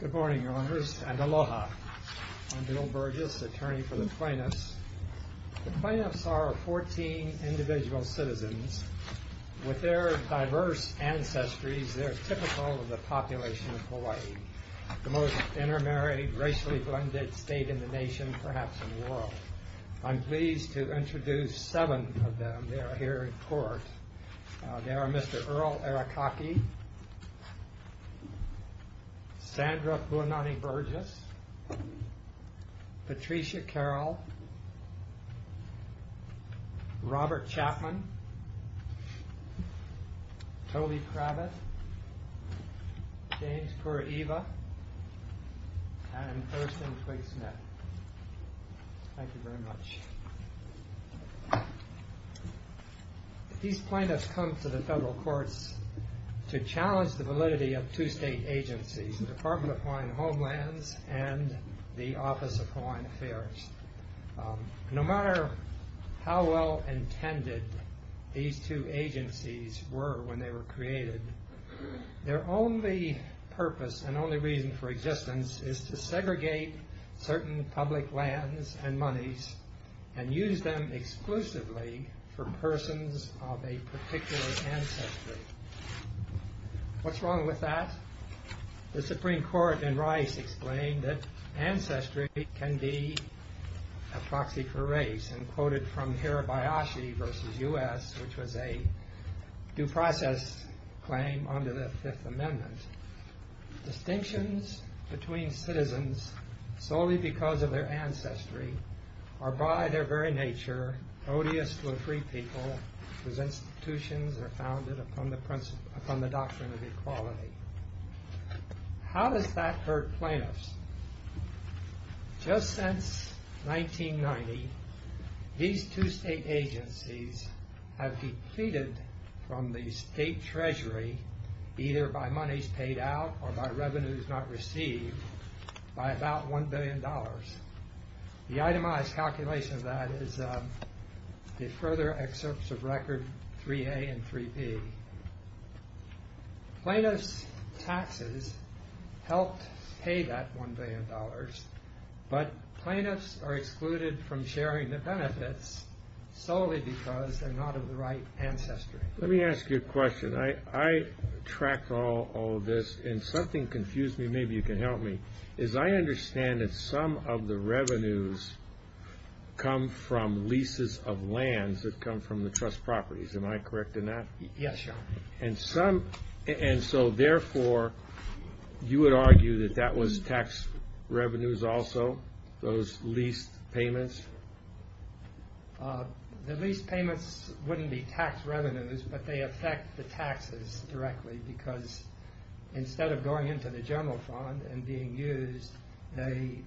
Good morning, owners, and aloha. I'm Bill Burgess, attorney for the plaintiffs. The plaintiffs are 14 individual citizens. With their diverse ancestries, they're typical of the population of Hawaii, the most intermarried, racially blended state in the nation, perhaps in the world. I'm pleased to introduce seven of them. They are Mr. Earl Arakaki, Sandra Buonanni Burgess, Patricia Carroll, Robert Chapman, Tole Kravitz, James Kuraiva, and Erson Twig-Smith. Thank you very much. These plaintiffs come to the federal courts to challenge the validity of two state agencies, the Department of Hawaiian Homelands and the Office of Hawaiian Affairs. No matter how well intended these two agencies were when they were created, their only purpose and only reason for existence is to segregate certain public lands and monies and use them exclusively for persons of a particular ancestry. What's wrong with that? The Supreme Court in Rice explained that ancestry can be a proxy for race and quoted from Hirabayashi v. U.S., which was a due process claim under the Fifth Amendment. Distinctions between citizens solely because of their ancestry are by their very nature odious to a free people whose institutions are founded upon the doctrine of equality. How does that hurt plaintiffs? Just since 1990, these two state agencies have depleted from the state treasury, either by the itemized calculation of that is the further excerpts of record 3A and 3B. Plaintiffs' taxes helped pay that $1 billion, but plaintiffs are excluded from sharing the benefits solely because they're not of the right ancestry. Let me ask you a question. I tracked all of this and something confused me. Maybe you can help me. I understand that some of the revenues come from leases of lands that come from the trust properties. Am I correct in that? Yes, sir. Therefore, you would argue that that was tax revenues also, those leased payments? The leased payments wouldn't be tax revenues, but they affect the taxes directly because instead of going into the general fund and being used, they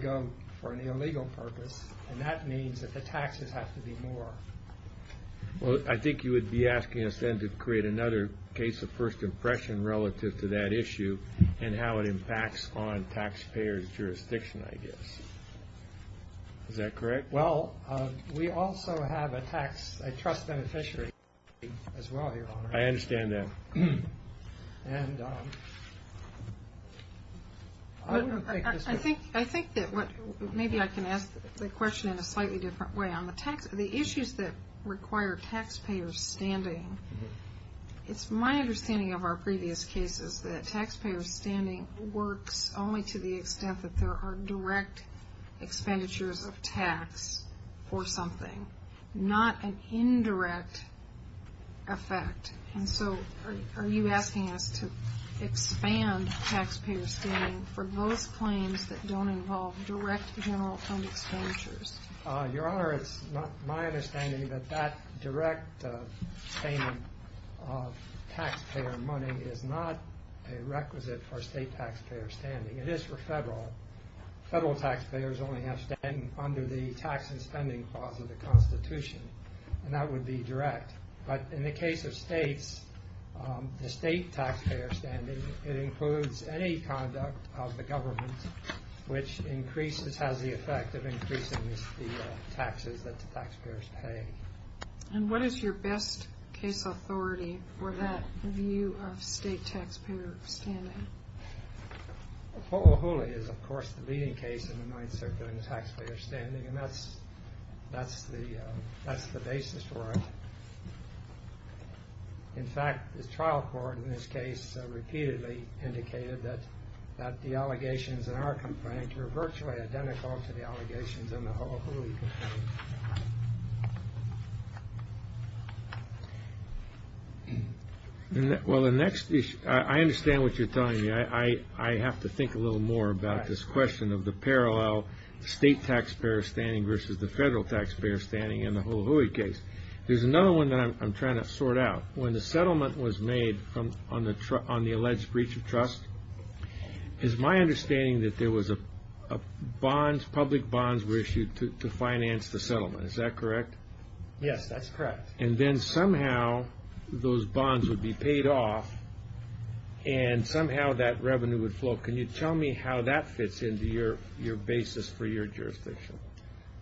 go for an illegal purpose, and that means that the taxes have to be more. I think you would be asking us then to create another case of first impression relative to that issue and how it impacts on taxpayers' jurisdiction, I guess. Is that correct? Well, we also have a trust beneficiary as well, Your Honor. I understand that. I think that maybe I can ask the question in a slightly different way. On the issues that require taxpayers' standing, it's my understanding of our previous cases that taxpayers' standing works only to the extent that there are direct expenditures of tax or something, not an indirect effect. And so are you asking us to expand taxpayers' standing for those claims that don't involve direct general fund expenditures? Your Honor, it's my understanding that that direct payment of taxpayer money is not a requisite for state taxpayer standing. It is for federal. Federal taxpayers only have standing under the tax and spending clause of the Constitution, and that would be direct. But in the case of states, the state taxpayer standing, it includes any conduct of the government which increases, has the effect of increasing the taxes that the taxpayers pay. And what is your best case authority for that view of state taxpayer standing? Hoʻohuli is, of course, the leading case in the mind circuit in the taxpayer standing, and that's the basis for it. In fact, the trial court in this case repeatedly indicated that the allegations in our complaint were virtually identical to the allegations in the Hoʻohuli case. Well, the next issue, I understand what you're telling me. I have to think a little more about this question of the parallel state taxpayer standing versus the federal taxpayer standing in the Hoʻohuli case. There's another one that I'm trying to sort out. When the settlement was made on the alleged breach of trust, it's my understanding that there was a bond, public bonds were issued to finance the settlement. Is that correct? Yes, that's correct. And then somehow those bonds would be paid off, and somehow that revenue would flow. Can you tell me how that fits into your basis for your jurisdiction?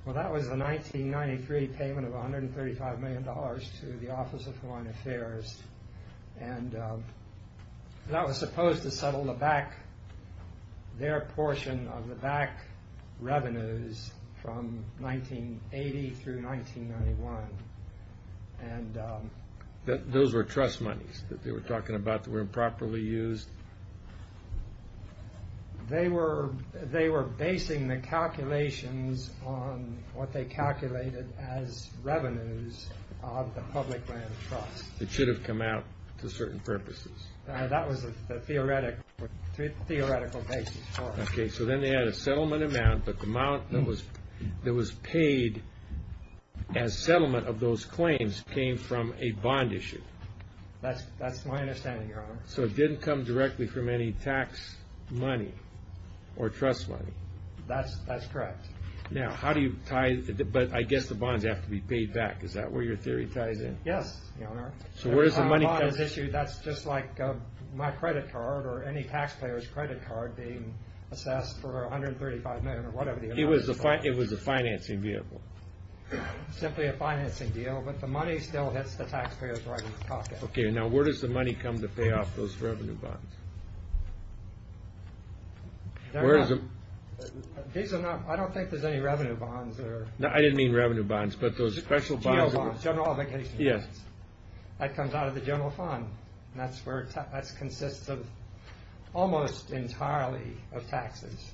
Well, that was a 1993 payment of $135 million to the Office of Foreign Affairs, and that was supposed to settle the back, their portion of the back revenues from 1980 through 1991. And those were trust monies that they were talking about that were improperly used? They were basing the calculations on what they calculated as revenues of the public land trust. It should have come out to certain purposes. That was the theoretical basis for it. Okay, so then they had a settlement amount, but the amount that was paid as settlement of those claims came from a bond issue. That's my understanding, Your Honor. So it didn't come directly from any tax money or trust money? That's correct. Now, how do you tie, but I guess the bonds have to be paid back. Is that where your theory ties in? Yes, Your Honor. So where does the money come from? That's just like my credit card or any taxpayer's credit card being assessed for $135 million or whatever the amount is. It was a financing vehicle. Simply a financing deal, but the money still hits the taxpayer's right pocket. Okay, now where does the money come to pay off those revenue bonds? I don't think there's any revenue bonds there. No, I didn't mean revenue bonds, but those special bonds. General bonds. That comes out of the general fund. That's where that consists of almost entirely of taxes.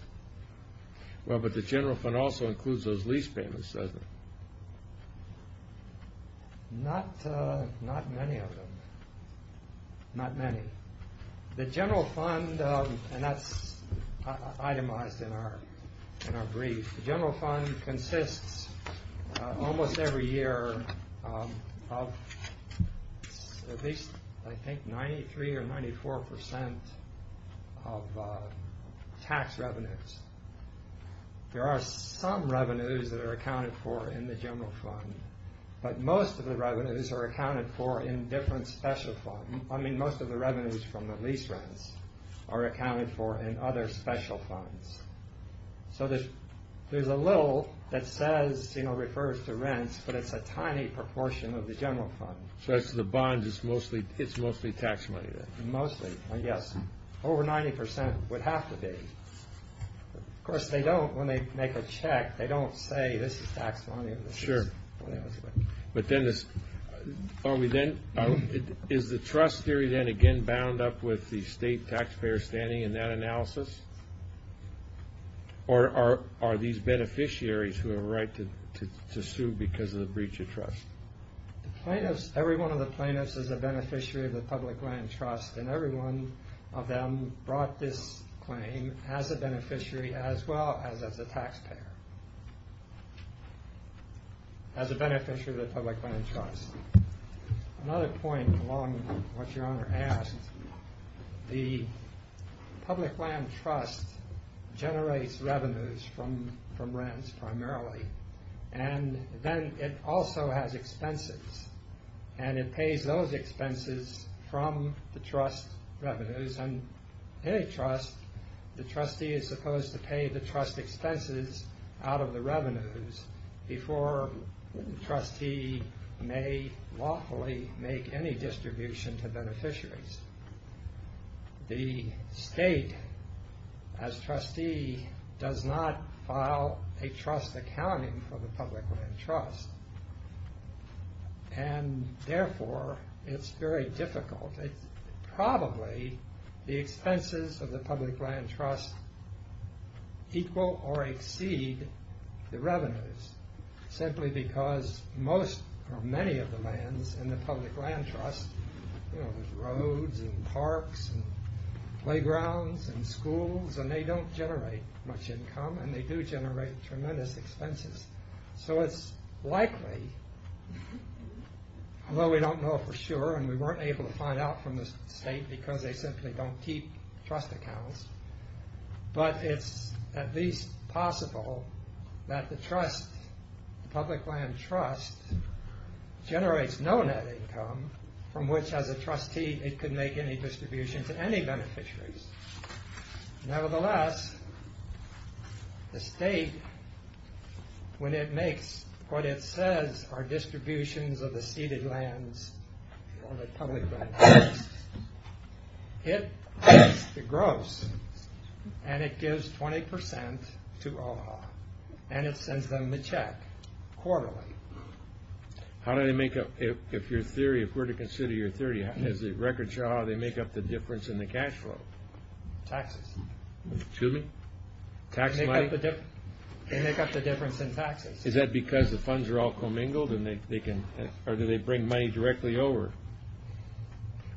Well, but the general fund also includes those lease payments, doesn't it? Not many of them. Not many. The general fund, and that's itemized in our every year of at least, I think, 93 or 94% of tax revenues. There are some revenues that are accounted for in the general fund, but most of the revenues are accounted for in different special funds. I mean, most of the revenues from the lease rents are accounted for in other special funds. So there's a little that says, you know, refers to rents, but it's a tiny proportion of the general fund. So it's the bonds, it's mostly tax money then? Mostly, yes. Over 90% would have to be. Of course, they don't, when they make a check, they don't say this is tax money. Sure. But then, is the trust theory then again bound up with the state taxpayer standing in that analysis? Or are these beneficiaries who have a right to sue because of the breach of trust? The plaintiffs, every one of the plaintiffs is a beneficiary of the public land trust, and every one of them brought this claim as a beneficiary as well as as a taxpayer. As a beneficiary of the public land trust. Another point along what your honor asked, the public land trust generates revenues from rents primarily, and then it also has expenses, and it pays those expenses from the trust revenues, and any trust, the trustee is supposed to pay the trust expenses out of the revenues before the trustee may lawfully make any distribution to beneficiaries. The state as trustee does not file a trust accounting for the public land trust, and therefore it's very difficult. It's probably the expenses of the public land trust equal or exceed the revenues, simply because most or many of the lands in the public land trust you know there's roads and parks and playgrounds and schools and they don't generate much income and they do generate tremendous expenses. So it's likely, although we don't know for sure and we weren't able to find out from the state because they simply don't keep trust accounts, but it's at least possible that the trust, the public land trust generates no net income from which as a trustee it could make any distribution to any beneficiaries. Nevertheless, the state when it makes what it says are distributions of the ceded lands or the public land trust, it cuts the gross and it gives 20% to Omaha and it sends them the check quarterly. How do they make up, if your theory, if we're to consider your theory, as a record show, how do they make up the difference in the cash flow? Taxes. Excuse me? Tax money. They make up the difference in taxes. Is that because the funds are all commingled and or do they bring money directly over?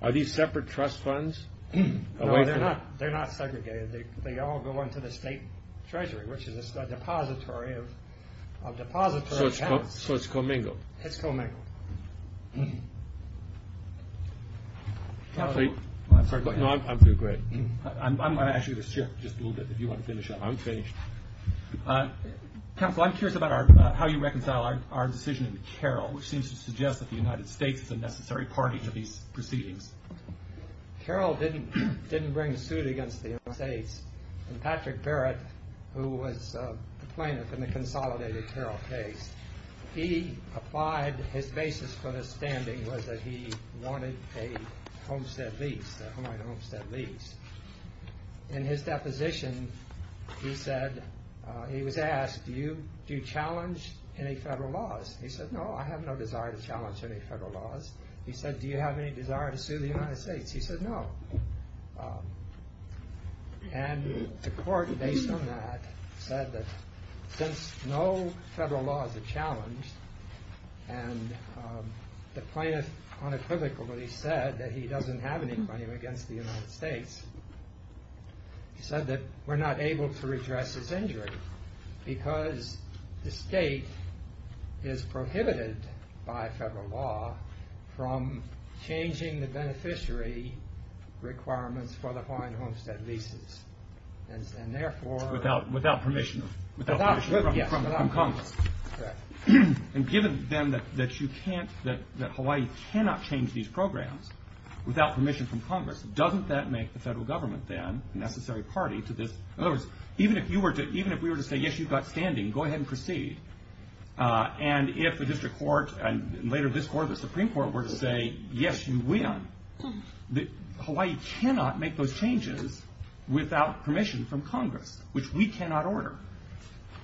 Are these separate trust funds? No, they're not. They're not segregated. They all go into the state treasury which is a depository of depository accounts. So it's commingled. It's commingled. I'm sorry. I'm going to ask you to shift just a little bit if you want to finish up. I'm curious about how you reconcile our decision in Carroll which seems to suggest that the United States is a necessary party to these proceedings. Carroll didn't bring a suit against the United States and Patrick Barrett, who was the plaintiff in the consolidated Carroll case, he applied his basis for the standing was that he wanted a homestead lease, a homestead lease. In his deposition he said, he was asked, do you challenge any federal laws? He said, no, I have no desire to challenge any federal laws. He said, do you have any desire to sue the United States? He said, no. And the court based on that said that since no federal laws are challenged and the plaintiff unequivocally said that he doesn't have any claim against the United States, he said that we're not able to redress his injury because the state is prohibited by federal law from changing the beneficiary requirements for the Hawaiian homestead leases. And therefore, without permission from Congress. And given then that you can't, that Hawaii cannot change these programs without permission from Congress, doesn't that make the federal government then a necessary party to this? In other words, even if we were to say, yes, you've got standing, go ahead and proceed. And if the district court and later this court, the Supreme Court were to say, yes, you win, Hawaii cannot make those changes without permission from Congress, which we cannot order.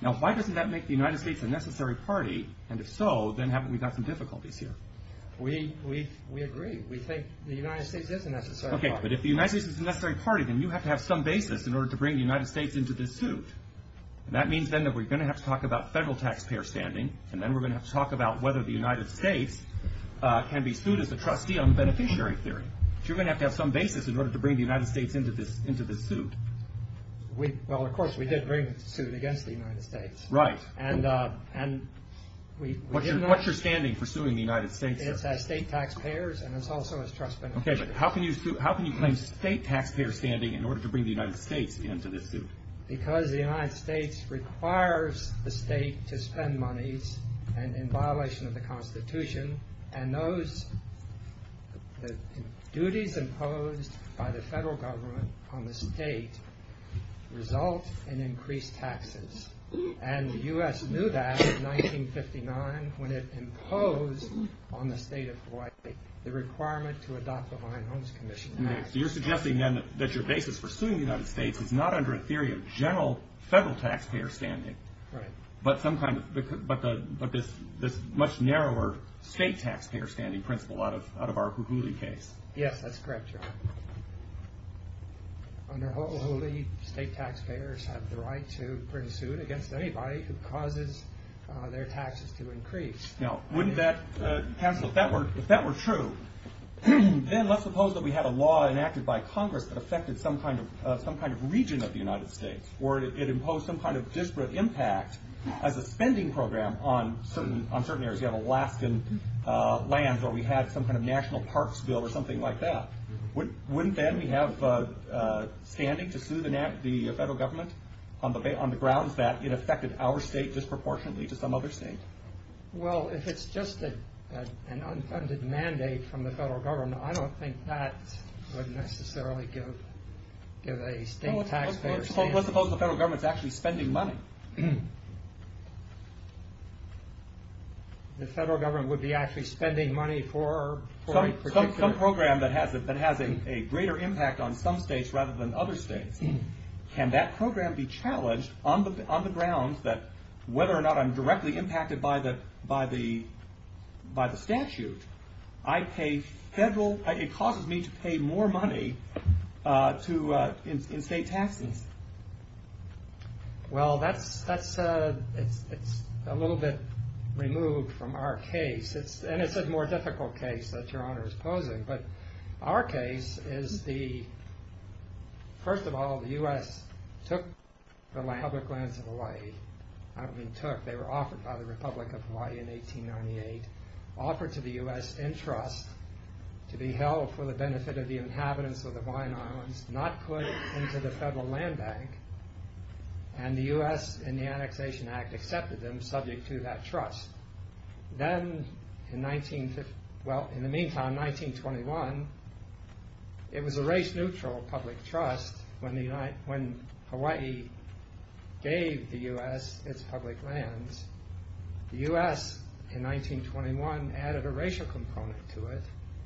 Now, why doesn't that make the United States a necessary party? And if so, then haven't we got some difficulties here? We, we, we agree. We think the United States is a necessary. Okay. But if the United States is a necessary party, then you have to have some basis in order to bring the United States into this suit. And that means then that we're going to have to talk about federal taxpayer standing. And then we're going to have to talk about whether the United States can be sued as a trustee on the beneficiary theory. So you're going to have to have some basis in order to bring the United States into this, into this suit. We, well, of course we did bring a suit against the United States. Right. And, and we, what's your, what's your standing for suing the United States? It's as state taxpayers and it's also as trust beneficiary. Okay. But how can you sue, how can you claim state taxpayer standing in order to bring the United States into this suit? Because the United States requires the state to spend monies and in violation of the constitution and those, the duties imposed by the federal government on the state result in increased taxes. And the U.S. knew that in 1959 when it imposed on the state of Hawaii the requirement to adopt the Hawaiian Homes Commission Act. So you're suggesting then that your basis for suing the United States is not under a theory of general federal taxpayer standing. Right. But some kind of, but the, but this, this much narrower state taxpayer standing principle out of, out of our Hulhuli case. Yes, that's correct, John. Under Hulhuli, state taxpayers have the right to bring a suit against anybody who causes their taxes to increase. Now, wouldn't that, counsel, if that were, if that were true, then let's suppose that we had a law enacted by Congress that affected some kind of, some kind of region of the United States, or it imposed some kind of disparate impact as a spending program on certain, on certain areas. You have Alaskan lands, or we had some kind of national parks bill or something like that. Wouldn't then we have standing to sue the federal government on the grounds that it affected our state disproportionately to some other state? Well, if it's just an unfunded mandate from the federal government, I don't think that would necessarily give, give a state taxpayer standing. Let's suppose the federal government's actually spending money. The federal government would be actually spending money for a particular... Some program that has a, that has a greater impact on some states rather than other states. Can that program be challenged on the, on the grounds that whether or not I'm directly impacted by the, by the, by the statute, I pay federal, it causes me to pay more money to, in state taxes. Well, that's, that's, it's, it's a little bit removed from our case. It's, and it's a more difficult case that Your Honor is posing, but our case is the, first of all, the U.S. took the public lands of Hawaii, I mean took, they were offered by the Republic of Hawaii in 1898, offered to the U.S. in trust to be held for the benefit of the inhabitants of the Hawaiian Islands, not put into the federal land bank, and the U.S. in the annexation act accepted them subject to that trust. Then in 1950, well, in the meantime, 1921, it was a race-neutral public trust when the, when Hawaii gave the U.S. its public lands. The U.S. in 1921 added a racial component to it,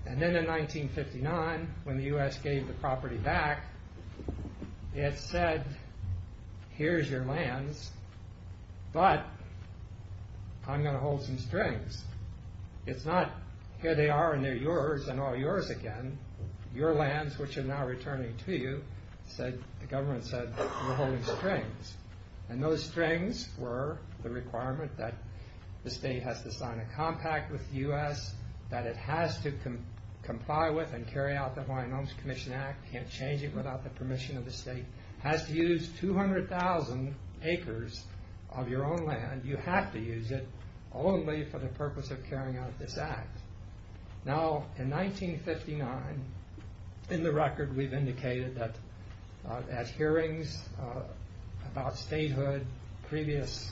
and then in 1959, when the U.S. gave the property back, it said, here's your lands, but I'm going to hold some strings. It's not, here they are and they're yours and all yours again. Your lands, which are now returning to you, said, the government said, we're holding strings, and those strings were the requirement that the state has to sign a compact with the U.S., that it has to comply with and carry out the Hawaiian Homes Commission Act, can't change it without the permission of the state, has to use 200,000 acres of your own land, you have to use it only for the purpose of carrying out this act. Now, in 1959, in the record, we've indicated that at hearings about statehood, previous,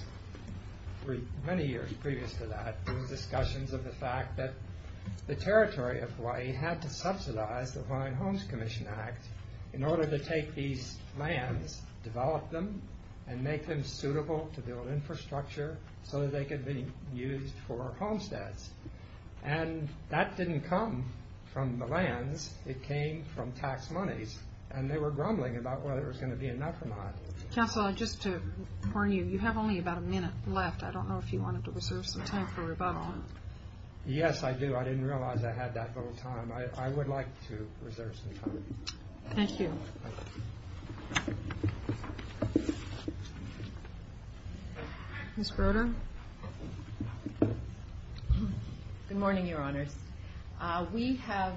many years previous to that, there were discussions of the fact that the territory of Hawaii had to subsidize the Hawaiian Homes Commission Act in order to take these lands, develop them, and make them suitable to build infrastructure so that they could be used for homesteads. And that didn't come from the lands, it came from tax monies, and they were grumbling about whether it was going to be enough or not. Counsel, just to warn you, you have only about a minute left. I don't know if you wanted to reserve some time for rebuttal. Yes, I do. I didn't realize I had that little time. I would like to reserve some time. Thank you. Ms. Broder? Good morning, Your Honors. We have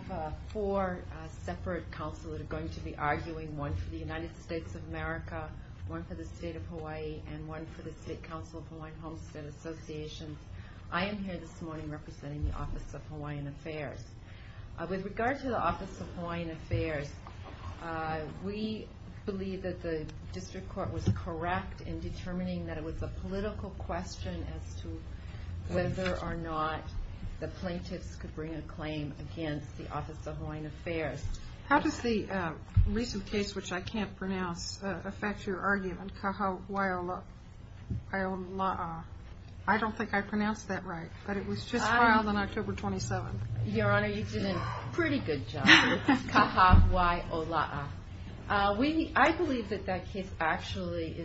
four separate counsel that are going to be arguing, one for the United States of America, one for the State of Hawaii, and one for the State Council of Hawaiian Homestead Associations. I am here this morning representing the Office of Hawaiian Affairs. With regard to the Office of Hawaiian Affairs, we believe that the district court was correct in determining that it was a political question as to whether or not the plaintiffs could bring a claim against the Office of Hawaiian Affairs. How does the recent case, which I can't pronounce, affect your argument? I don't think I pronounced that right, but it was just filed on October 27th. Your Honor, you did a pretty good job. Kaha wai ola'a. I believe that that case actually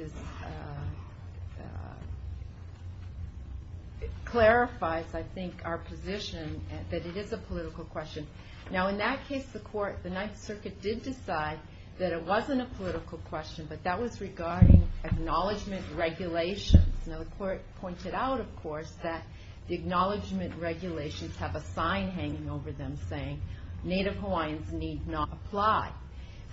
clarifies, I think, our position that it is a political question. Now, in that case, the Ninth Circuit did decide that it wasn't a political question, but that was regarding acknowledgment regulations. Now, the court pointed out, of course, that the acknowledgment regulations have a sign hanging over them saying, Native Hawaiians need not apply.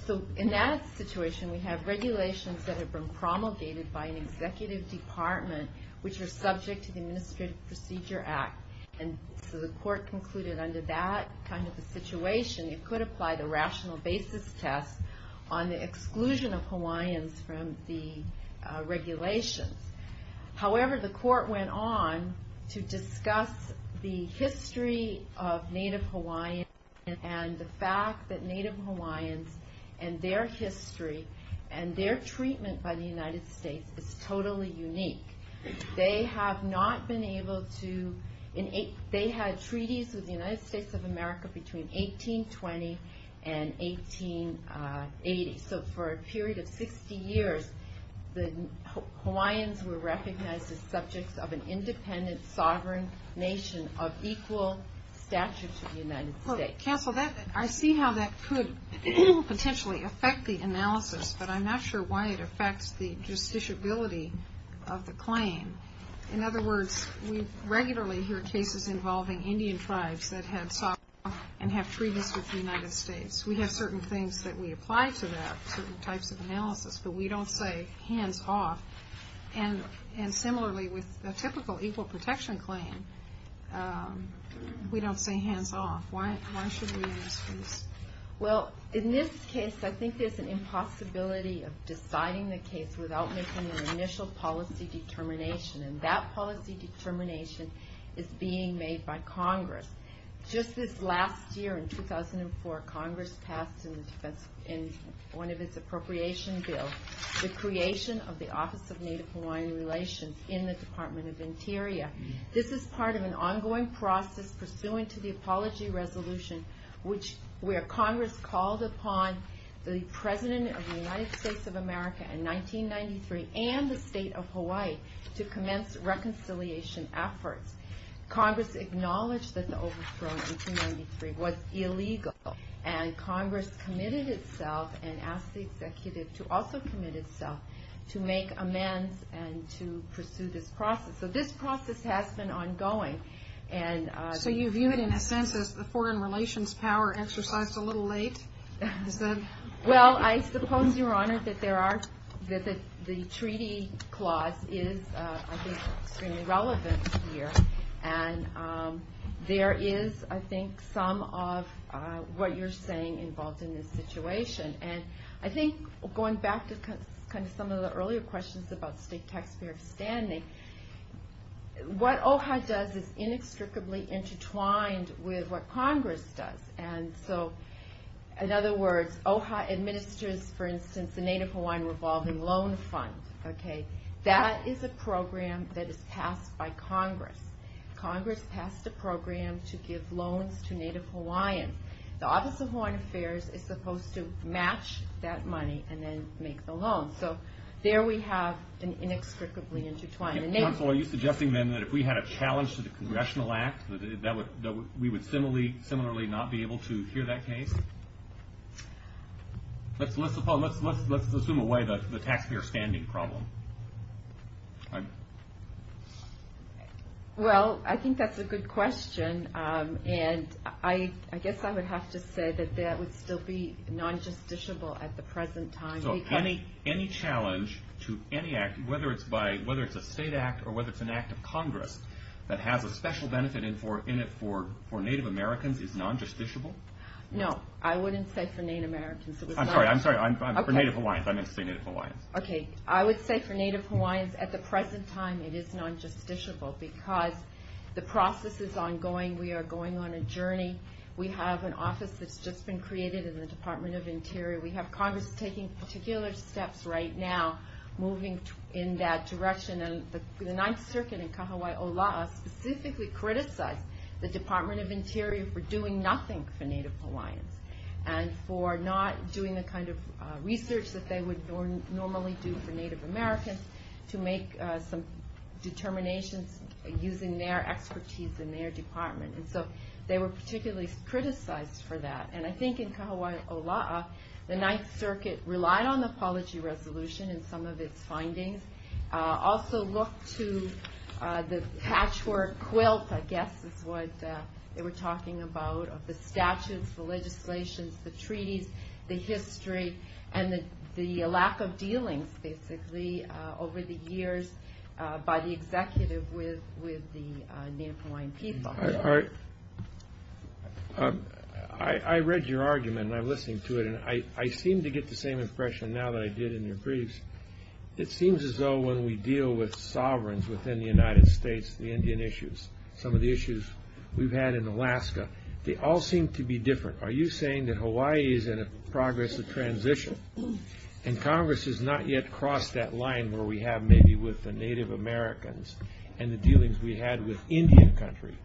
So in that situation, we have regulations that have been promulgated by an executive department, which are subject to the Administrative Procedure Act. And so the court concluded under that kind of a situation, it could apply the rational basis test on the exclusion of Hawaiians from the regulations. However, the court went on to discuss the history of Native Hawaiians and the fact that Native Hawaiians and their history and their treatment by the United States is totally unique. They have not been able to, they had treaties with the United States of America between 1820 and 1880. So for a period of 60 years, the Hawaiians were recognized as subjects of an independent sovereign nation of equal stature to the United States. Counsel, I see how that could potentially affect the analysis, but I'm not sure why it affects the justiciability of the claim. In other words, we regularly hear cases involving Indian tribes that had sovereign and have treaties with the United States. We have certain things that we analyze, but we don't say hands off. And similarly, with a typical equal protection claim, we don't say hands off. Why should we use these? Well, in this case, I think there's an impossibility of deciding the case without making an initial policy determination. And that policy determination is being made by Congress. Just this last year, in 2004, Congress passed in one of its appropriation bills, the creation of the Office of Native Hawaiian Relations in the Department of Interior. This is part of an ongoing process pursuant to the Apology Resolution, where Congress called upon the President of the United States of America in 1993 and the Congress committed itself and asked the Executive to also commit itself to make amends and to pursue this process. So this process has been ongoing. So you view it in a sense as the foreign relations power exercised a little late? Well, I suppose, Your Honor, that the treaty clause is, I think, extremely relevant here. And there is, I think, some of what you're saying involved in this situation. And I think, going back to some of the earlier questions about state taxpayer standing, what OHA does is inextricably intertwined with what Congress does. And so, in other words, OHA administers, for instance, the Native Hawaiian Revolving Loan Fund. That is a program that is Congress. Congress passed a program to give loans to Native Hawaiian. The Office of Foreign Affairs is supposed to match that money and then make the loan. So there we have an inextricably intertwined. Counsel, are you suggesting then that if we had a challenge to the Congressional Act, we would similarly not be able to hear that case? Let's assume away the taxpayer standing problem. Well, I think that's a good question. And I guess I would have to say that that would still be non-justiciable at the present time. So any challenge to any act, whether it's a state act or whether it's an act of Congress that has a special benefit in it for Native Americans is non-justiciable? No. I wouldn't say for Native Americans. I'm sorry. I'm sorry. For Native Hawaiians. I meant to say Native Hawaiians. Okay. I would say for Native Hawaiians at the because the process is ongoing. We are going on a journey. We have an office that's just been created in the Department of Interior. We have Congress taking particular steps right now, moving in that direction. And the Ninth Circuit in Kahawai Olaa specifically criticized the Department of Interior for doing nothing for Native Hawaiians and for not doing the kind of using their expertise in their department. And so they were particularly criticized for that. And I think in Kahawai Olaa, the Ninth Circuit relied on the apology resolution and some of its findings. Also looked to the patchwork quilt, I guess is what they were talking about, of the statutes, the legislations, the treaties, the history, and the lack of dealings basically over the years by the executive with the Native Hawaiian people. I read your argument and I'm listening to it and I seem to get the same impression now that I did in your briefs. It seems as though when we deal with sovereigns within the United States, the Indian issues, some of the issues we've had in Alaska, they all seem to be different. Are you saying that Hawaii is in progress of transition and Congress has not yet crossed that line where we have maybe with the Native Americans and the dealings we had with Indian country?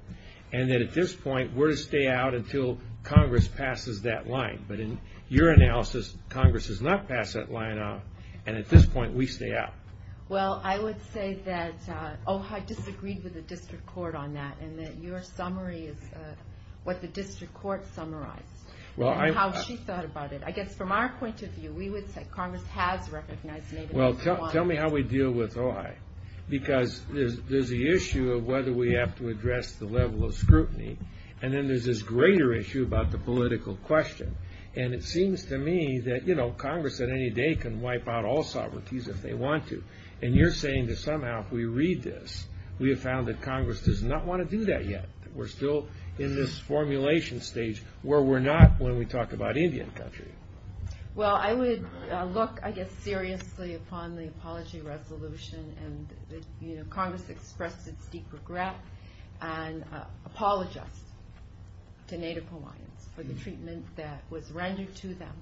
And that at this point, we're to stay out until Congress passes that line. But in your analysis, Congress has not passed that line and at this point, we stay out. Well, I would say that OHA disagreed with the district court on that and that your summary is what the district court summarized and how she thought about it. I guess from our point of view, we would say Congress has recognized Native Hawaiians. Well, tell me how we deal with OHAI because there's the issue of whether we have to address the level of scrutiny and then there's this greater issue about the political question. And it seems to me that Congress at any day can wipe out all sovereignties if they want to. And you're saying that somehow if we read this, we have found that Congress does not want to do that yet. We're still in this formulation stage where we're not when we talk about Indian country. Well, I would look, I guess, seriously upon the apology resolution and Congress expressed its deep regret and apologize to Native Hawaiians for the treatment that was rendered to them.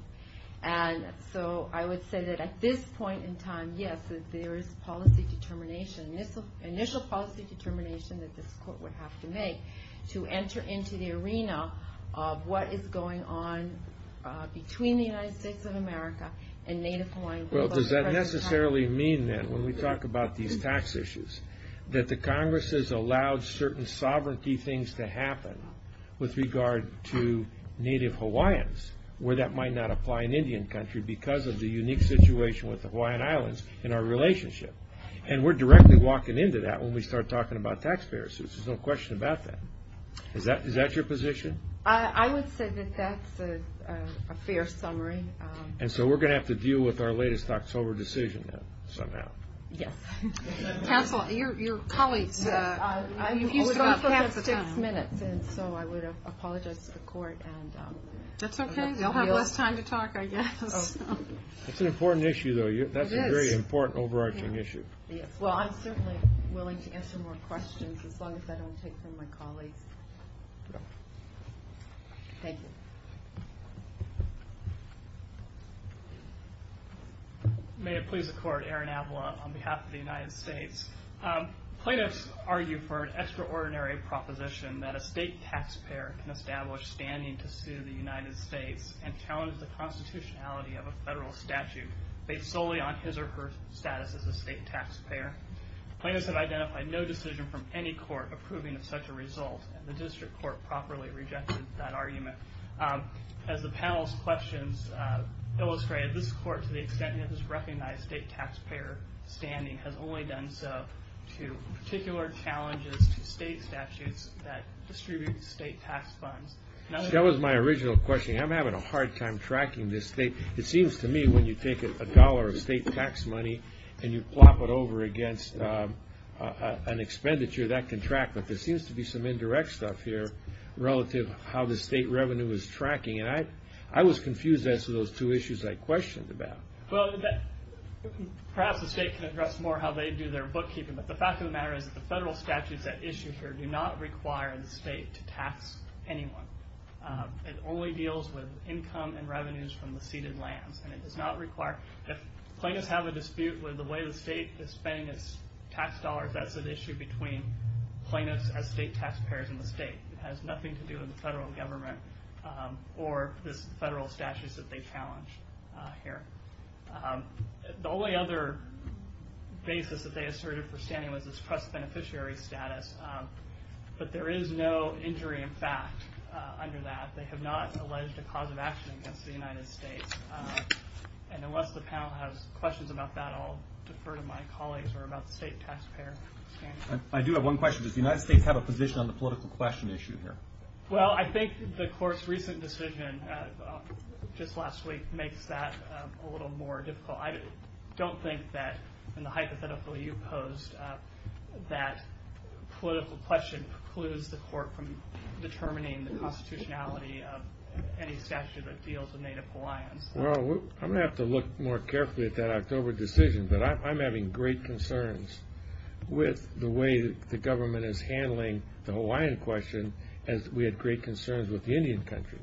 And so I would say that at this point in time, yes, there is policy determination, initial policy determination that this court would have to make to enter into the arena of what is going on between the United States of America and Native Hawaiians. Well, does that necessarily mean that when we talk about these tax issues, that the Congress has allowed certain sovereignty things to happen with regard to Native Hawaiians, where that might not apply in Indian country because of the unique situation with the Hawaiian walking into that when we start talking about taxpayers. There's no question about that. Is that is that your position? I would say that that's a fair summary. And so we're going to have to deal with our latest October decision somehow. Yes. Counselor, your colleagues. So I would apologize to the court. That's okay. You'll have less time to talk. That's an important issue, though. That's a very important overarching issue. Well, I'm certainly willing to answer more questions as long as I don't take from my colleagues. Thank you. May it please the court, Aaron Avila on behalf of the United States. Plaintiffs argue for an extraordinary proposition that a state taxpayer can establish standing to sue the United States and challenge the constitutionality of a federal statute based solely on his or her status as a taxpayer. Plaintiffs have identified no decision from any court approving of such a result. The district court properly rejected that argument. As the panel's questions illustrated, this court, to the extent it has recognized state taxpayer standing, has only done so to particular challenges to state statutes that distribute state tax funds. That was my original question. I'm having a hard time tracking this state. It seems to me when you take a dollar of state tax money and you over against an expenditure, that can track, but there seems to be some indirect stuff here relative to how the state revenue is tracking. I was confused as to those two issues I questioned about. Well, perhaps the state can address more how they do their bookkeeping, but the fact of the matter is the federal statutes at issue here do not require the state to tax anyone. It only deals with income and revenues from the ceded lands, and it does not require... Plaintiffs have a dispute with the way the state is spending its tax dollars. That's an issue between plaintiffs as state taxpayers and the state. It has nothing to do with the federal government or this federal statute that they challenge here. The only other basis that they asserted for standing was this trust beneficiary status, but there is no injury in fact under that. They have not alleged a cause of action against the United States, and unless the panel has questions about that, I'll defer to my colleagues or about the state taxpayer standing. I do have one question. Does the United States have a position on the political question issue here? Well, I think the court's recent decision just last week makes that a little more difficult. I don't think that in the hypothetical you posed, that political question precludes the court from any statute that deals with Native Hawaiians. Well, I'm going to have to look more carefully at that October decision, but I'm having great concerns with the way the government is handling the Hawaiian question, as we had great concerns with the Indian country.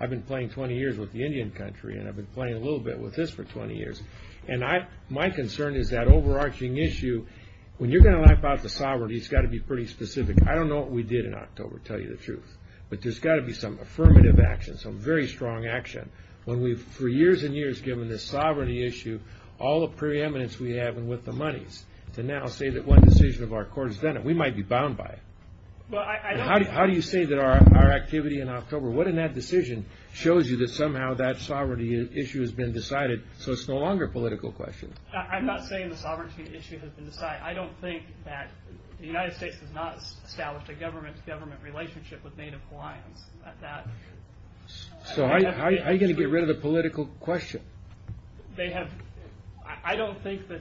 I've been playing 20 years with the Indian country, and I've been playing a little bit with this for 20 years, and my concern is that overarching issue. When you're going to lap out the sovereignty, it's got to be pretty specific. I don't know what we did in October, to tell you the truth, but there's got to be some affirmative action, some very strong action. When we've, for years and years, given this sovereignty issue, all the preeminence we have, and with the monies, to now say that one decision of our court has done it, we might be bound by it. How do you say that our activity in October, what in that decision shows you that somehow that sovereignty issue has been decided, so it's no longer a political question? I'm not saying the sovereignty issue has been decided. I don't think that the United States has not established a government-to-government relationship with Native Hawaiians. So are you going to get rid of the political question? I don't think that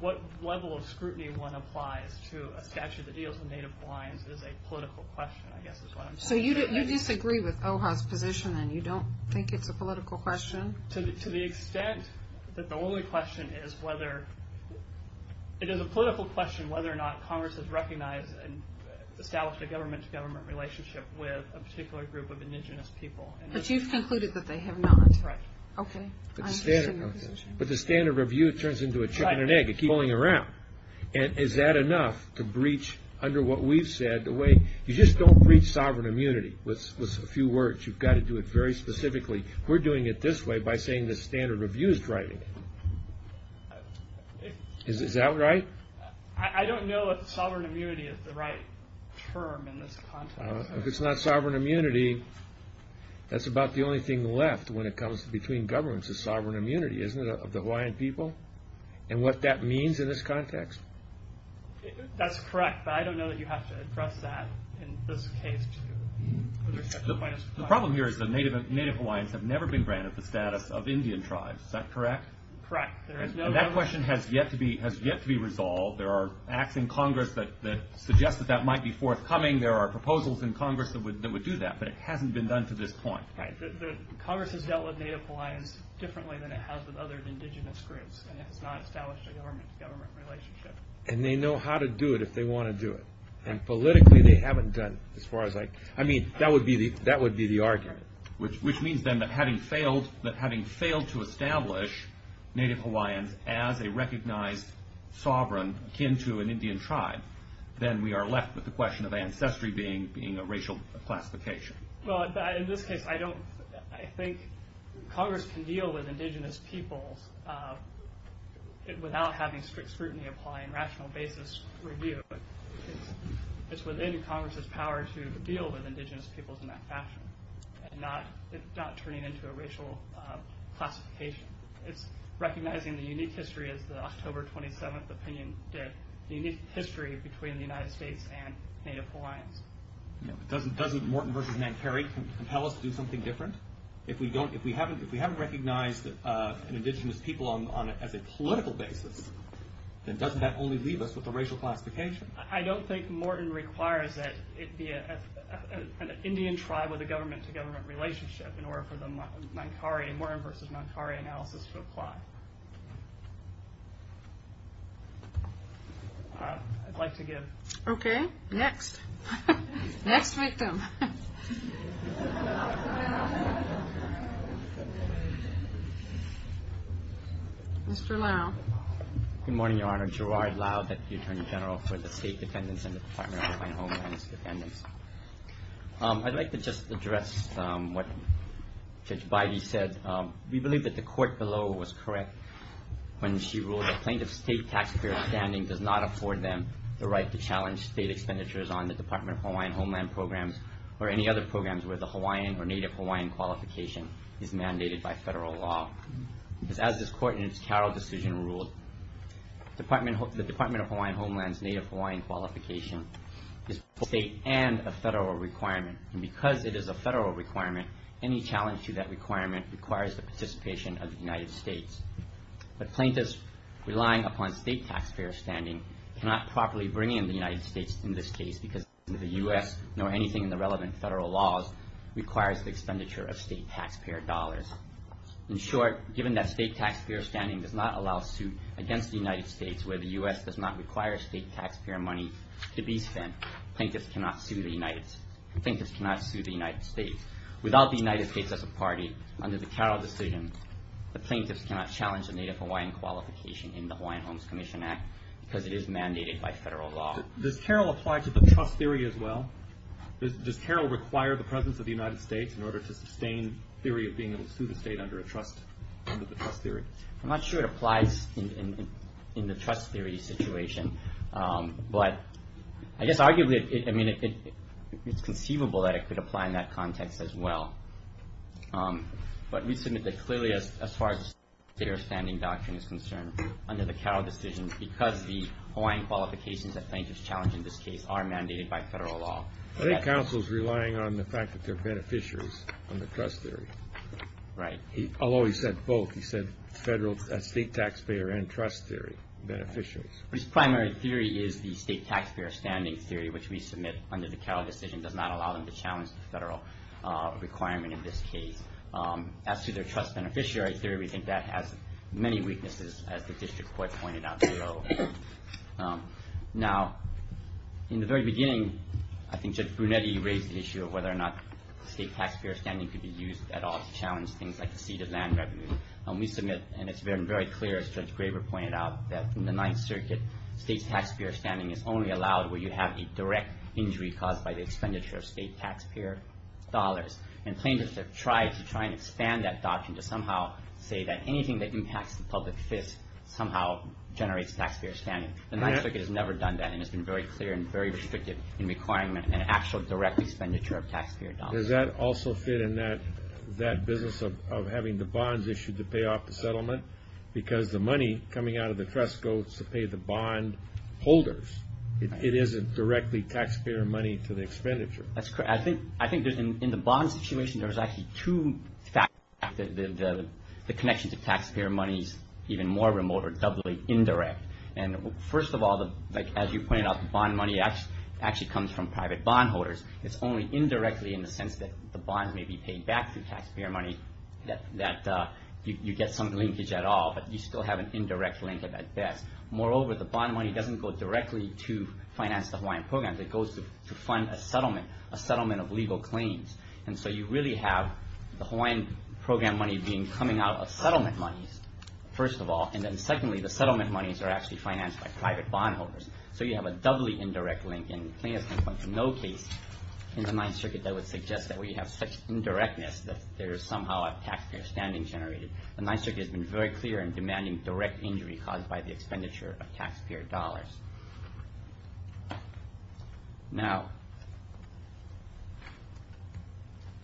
what level of scrutiny one applies to a statute of the deals with Native Hawaiians is a political question, I guess is what I'm saying. So you disagree with OHA's position, and you don't think it's a political question? To the extent that the only question is whether, it is a political question whether or not Congress has recognized and established a government-to-government relationship with a particular group of indigenous people. But you've concluded that they have not. Right. Okay. But the standard review turns into a chicken and egg, it keeps going around. And is that enough to breach, under what we've said, the way, you just don't breach sovereign immunity with a few words, you've got to do it very specifically. We're doing it this way by saying the standard review is driving it. Is that right? I don't know if sovereign immunity is the right term in this context. If it's not sovereign immunity, that's about the only thing left when it comes to between governments is sovereign immunity, isn't it, of the Hawaiian people? And what that means in this context. That's correct, but I don't know that you have to address that in this case. The problem here is that Native Hawaiians have never been granted the status of Indian tribes, is that correct? Correct. That question has yet to be resolved. There are acts in Congress that suggest that that might be forthcoming. There are proposals in Congress that would do that, but it hasn't been done to this point. Right. Congress has dealt with Native Hawaiians differently than it has with other indigenous groups, and it has not established a government-to-government relationship. And they know how to do it if they want to do it. And politically, they haven't done it, I mean, that would be the argument. Which means then that having failed to establish Native Hawaiians as a recognized sovereign akin to an Indian tribe, then we are left with the question of ancestry being a racial classification. Well, in this case, I think Congress can deal with indigenous peoples without having strict scrutiny apply and rational basis review. It's within Congress's power to deal with indigenous peoples in that fashion, and not turning it into a racial classification. It's recognizing the unique history, as the October 27th opinion did, the unique history between the United States and Native Hawaiians. Doesn't Morton v. Nant Perry compel us to do something different? If we haven't recognized an indigenous people as a political basis, then doesn't that only leave us with a racial classification? I don't think Morton requires that it be an Indian tribe with a government-to-government relationship in order for the Morin v. Nant Perry analysis to apply. I'd like to give. Okay, next. Next victim. Mr. Lau. Good morning, Your Honor. Gerard Lau, Deputy Attorney General for the State Defendants and the Department of Hawaiian Homelands Defendants. I'd like to just address what Judge Bidey said. We believe that the court below was correct when she ruled that plaintiff's state tax appear standing does not afford them the right to challenge state expenditures on the Department of Hawaiian Homeland Programs or any other programs where the Hawaiian or Native Hawaiian qualification is mandated by federal law. As this court in its cattle decision ruled, the Department of Hawaiian Homelands Native Hawaiian qualification is both a state and a federal requirement, and because it is a federal requirement, any challenge to that requirement requires the participation of the United States. But plaintiffs relying upon state taxpayer standing cannot properly bring in the United States in this case because the U.S., nor anything in the relevant federal laws, requires the expenditure of state taxpayer dollars. In short, given that state taxpayer standing does not allow suit against the United States where the U.S. does not require state taxpayer money to be spent, plaintiffs cannot sue the United States. Without the United States as a party, under the Carroll decision, the plaintiffs cannot challenge the Native Hawaiian qualification in the Hawaiian Homes Commission Act because it is mandated by federal law. Does Carroll apply to the trust theory as well? Does Carroll require the presence of the United States in order to sustain theory of being able to sue the state under a trust, under the trust theory? I'm not sure it applies in the trust theory situation, but I guess arguably it's conceivable that it could apply in that context as well. But we submit that clearly as far as the state taxpayer standing doctrine is concerned, under the Carroll decision, because the Hawaiian qualifications that plaintiffs challenge in this case are mandated by federal law. I think counsel's relying on the fact that they're beneficiaries under trust theory. Right. Although he said both. He said federal, state taxpayer and trust theory beneficiaries. His primary theory is the state taxpayer standing theory, which we submit under the Carroll decision does not allow them to challenge the federal requirement in this case. As to their trust beneficiary theory, we think that has many weaknesses, as the district court pointed out below. Now, in the very beginning, I think Judge Brunetti raised the issue of whether or not state taxpayer standing could be used at all to challenge things like the seeded land revenue. We submit, and it's been very clear, as Judge Graber pointed out, that in the Ninth Circuit, state taxpayer standing is only allowed where you have a direct injury caused by the expenditure of state taxpayer dollars. And plaintiffs have tried to try and expand that doctrine to somehow say that anything that impacts the public fist somehow generates taxpayer standing. The Ninth Circuit has never done that, and it's been very clear and very restrictive in requiring an actual direct expenditure of taxpayer dollars. Does that also fit in that business of having the bonds issued to pay off the settlement? Because the money coming out of the trust goes to pay the bond holders. It isn't directly taxpayer money to the expenditure. That's correct. I think in the bond situation, there's actually two factors that the connection to taxpayer money is even more remote or doubly indirect. And first of all, as you pointed out, the bond money actually comes from private bond holders. It's only indirectly in the sense that the bonds may be paid back through taxpayer money that you get some linkage at all. But you still have an indirect link at best. Moreover, the bond money doesn't go directly to finance the Hawaiian programs. It goes to fund a settlement, a settlement of legal claims. And so you really have the Hawaiian program money being coming out of settlement monies, first of all. And then secondly, the settlement monies are actually financed by private bond holders. So you have a doubly indirect link. And plaintiff can point to no case in the Ninth Circuit that would suggest that we have such indirectness that there is somehow a taxpayer standing generated. The Ninth Circuit has been very clear in demanding direct injury caused by the expenditure of taxpayer dollars. Now,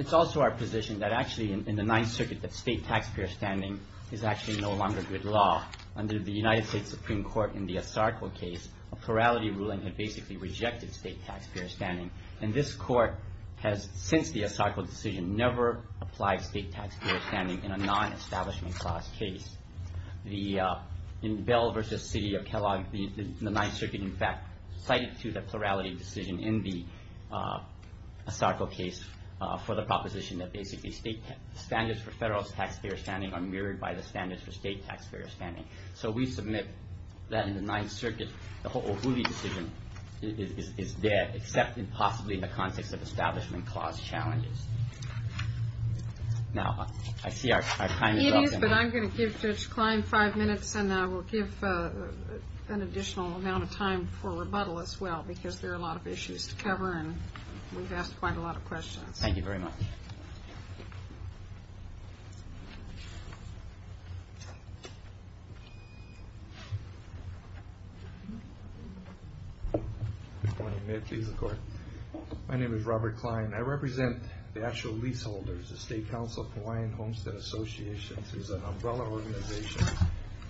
it's also our position that actually in the Ninth Circuit that state taxpayer standing is actually no longer good law. Under the United States Supreme Court in the Asarco case, a plurality ruling had basically rejected state taxpayer standing. And this court has, since the Asarco decision, never applied state taxpayer standing in a non-establishment class case. The Bell versus City of Kellogg, the Ninth Circuit, in fact, cited to the plurality decision in the Asarco case for the proposition that basically standards for federal taxpayer standing are mirrored by the standards for state taxpayer standing. So we submit that in the Ninth Circuit, the Ho'ohulhi decision is there, except possibly in the context of establishment clause challenges. Now, I see our time is up. It is, but I'm going to give Judge Klein five minutes, and I will give an additional amount of time for rebuttal as well, because there are a lot of issues to cover, and we've asked quite a lot of questions. Thank you very much. Good morning. May it please the Court. My name is Robert Klein. I represent the actual leaseholders, the State Council of Hawaiian Homestead Associations. There's an umbrella organization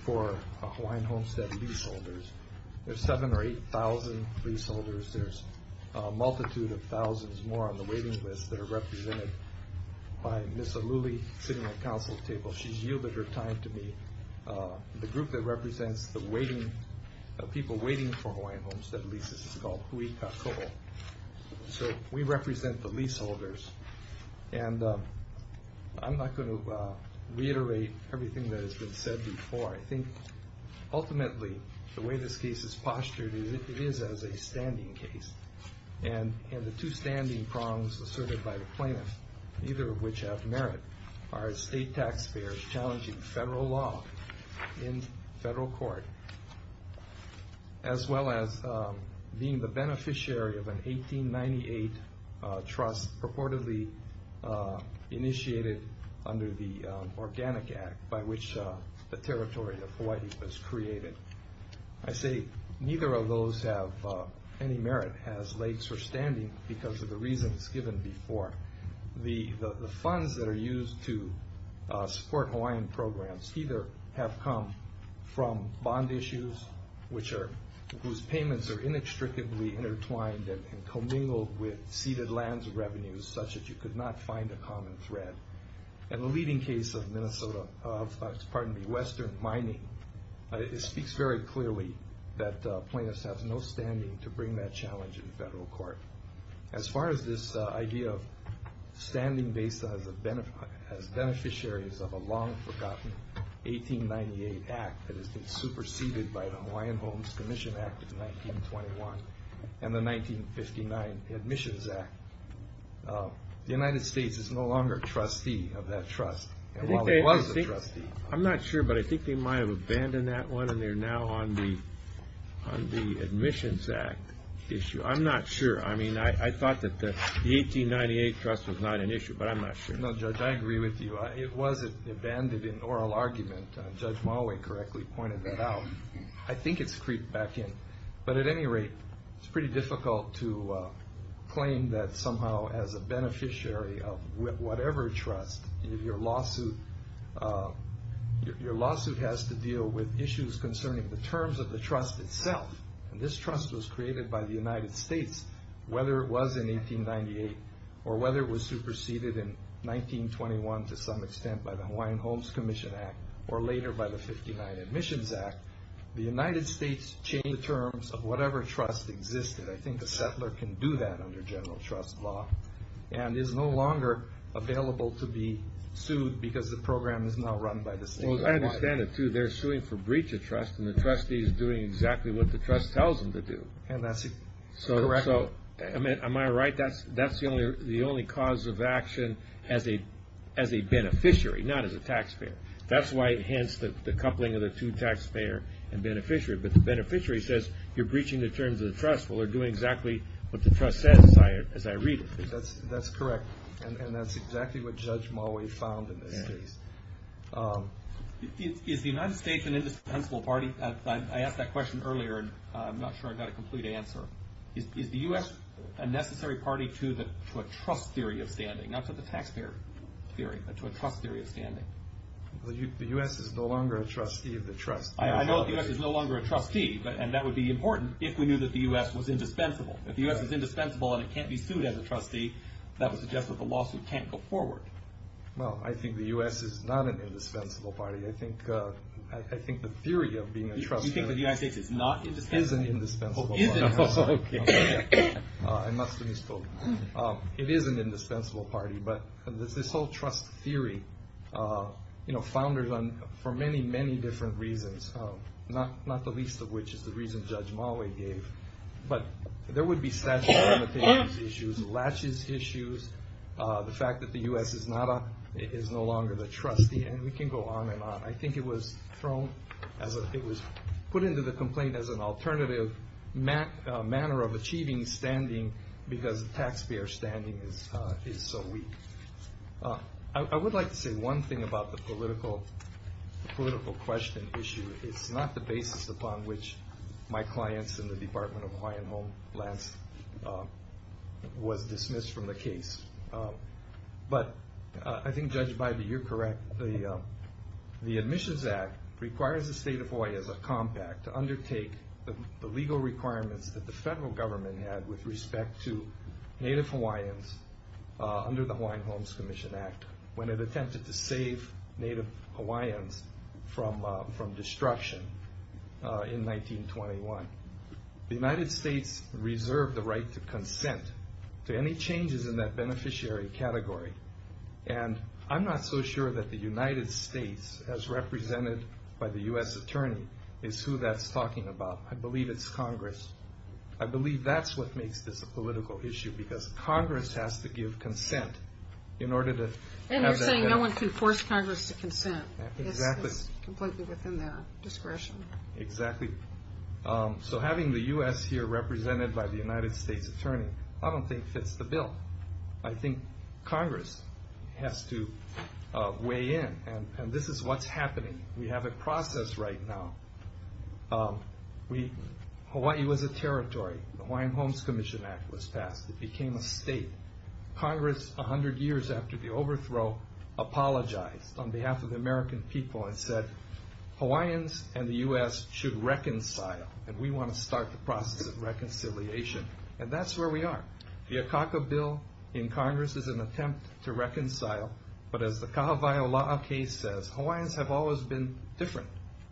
for Hawaiian homestead leaseholders. There's 7,000 or 8,000 leaseholders. There's a multitude of thousands more on the waiting list that are represented by Ms. Aluli sitting at counsel's table. She's yielded her time to me. The group that represents the people waiting for Hawaiian homestead leases is called Hui Ka Koho. So we represent the leaseholders, and I'm not going to reiterate everything that has been said before. I think, ultimately, the way this case is postured is it is as a standing case, and the two standing prongs asserted by the plaintiff, neither of which have merit, are state taxpayers challenging federal law in federal court, as well as being the beneficiary of an 1898 trust purportedly initiated under the Organic Act by which the territory of Hawaii was created. I say neither of those have any merit as legs or standing because of the reasons given before. The funds that are used to support Hawaiian programs either have come from bond issues whose payments are inextricably intertwined and commingled with ceded lands revenues such that you could not find a common thread. In the leading case of Minnesota, of, pardon me, Western mining, it speaks very clearly that plaintiffs have no standing to bring that challenge in federal court. As far as this idea of standing based on as beneficiaries of a long forgotten 1898 Act that has been superseded by the Hawaiian Homes Commission Act of 1921 and the 1959 Admissions Act, the United States is no longer a trustee of that trust. And while it was a trustee, I'm not sure, but I think they might have abandoned that one, and they're now on the Admissions Act issue. I'm not sure. I mean, I thought that the 1898 trust was not an issue, but I'm not sure. No, Judge, I agree with you. It was abandoned in oral argument. Judge Moway correctly pointed that out. I think it's creeped back in. But at any rate, it's pretty difficult to claim that somehow as a beneficiary of whatever trust, your lawsuit has to deal with issues concerning the terms of the trust itself. And this trust was created by the United States, whether it was in 1898, or whether it was superseded in 1921 to some extent by the Hawaiian Homes Commission Act, or later by the 59 Admissions Act. The United States changed the terms of whatever trust existed. I think a settler can do that under general trust law, and is no longer available to be sued because the program is now run by the state. I understand it, too. They're suing for breach of trust, and the trustee is doing exactly what the trust tells them to do. And that's correct. So am I right? That's the only cause of action as a beneficiary, not as a taxpayer. That's why, hence, the coupling of the two, taxpayer and beneficiary. But the beneficiary says, you're breaching the terms of the trust. Well, they're doing exactly what the trust says, as I read it. That's correct. And that's exactly what Judge Moway found in this case. Is the United States an indispensable party? I asked that question earlier, and I'm not sure I've got a complete answer. Is the US a necessary party to a trust theory of standing? Not to the taxpayer theory, but to a trust theory of standing? The US is no longer a trustee of the trust. I know the US is no longer a trustee, and that would be important if we knew that the US was indispensable. If the US is indispensable and it can't be sued as a trustee, that would suggest that the lawsuit can't go forward. Well, I think the US is not an indispensable party. I think the theory of being a trustee- You think the United States is not indispensable? Is an indispensable party. Oh, is it? Oh, OK. I must have misspoke. It is an indispensable party. But this whole trust theory, founders for many, many different reasons, not the least of which is the reason Judge Moway gave, but there would be statutory limitations issues, latches issues, the fact that the US is no longer the trustee, and we can go on and on. I think it was thrown, it was put into the complaint as an alternative manner of achieving standing because the taxpayer standing is so weak. I would like to say one thing about the political question issue. It's not the basis upon which my clients in the Department of Hawaiian Homelands was dismissed from the case. But I think, Judge Bybee, you're correct. The Admissions Act requires the state of Hawaii as a compact to undertake the legal requirements that the federal government had with respect to Native Hawaiians under the Hawaiian Homes Commission Act when it attempted to save Native Hawaiians from destruction in 1921. The United States reserved the right to consent to any changes in that beneficiary category. And I'm not so sure that the United States, as represented by the US attorney, is who that's talking about. I believe it's Congress. I believe that's what makes this a political issue, because Congress has to give consent in order to have that benefit. And you're saying no one can force Congress to consent. Exactly. It's completely within their discretion. Exactly. So having the US here represented by the United States attorney, I don't think fits the bill. I think Congress has to weigh in. And this is what's happening. We have a process right now. Hawaii was a territory. The Hawaiian Homes Commission Act was passed. It became a state. Congress, 100 years after the overthrow, apologized on behalf of the American people and said, Hawaiians and the US should reconcile. And we want to start the process of reconciliation. And that's where we are. The Akaka Bill in Congress is an attempt to reconcile. But as the Kahawai Ola'a case says, Hawaiians have always been different.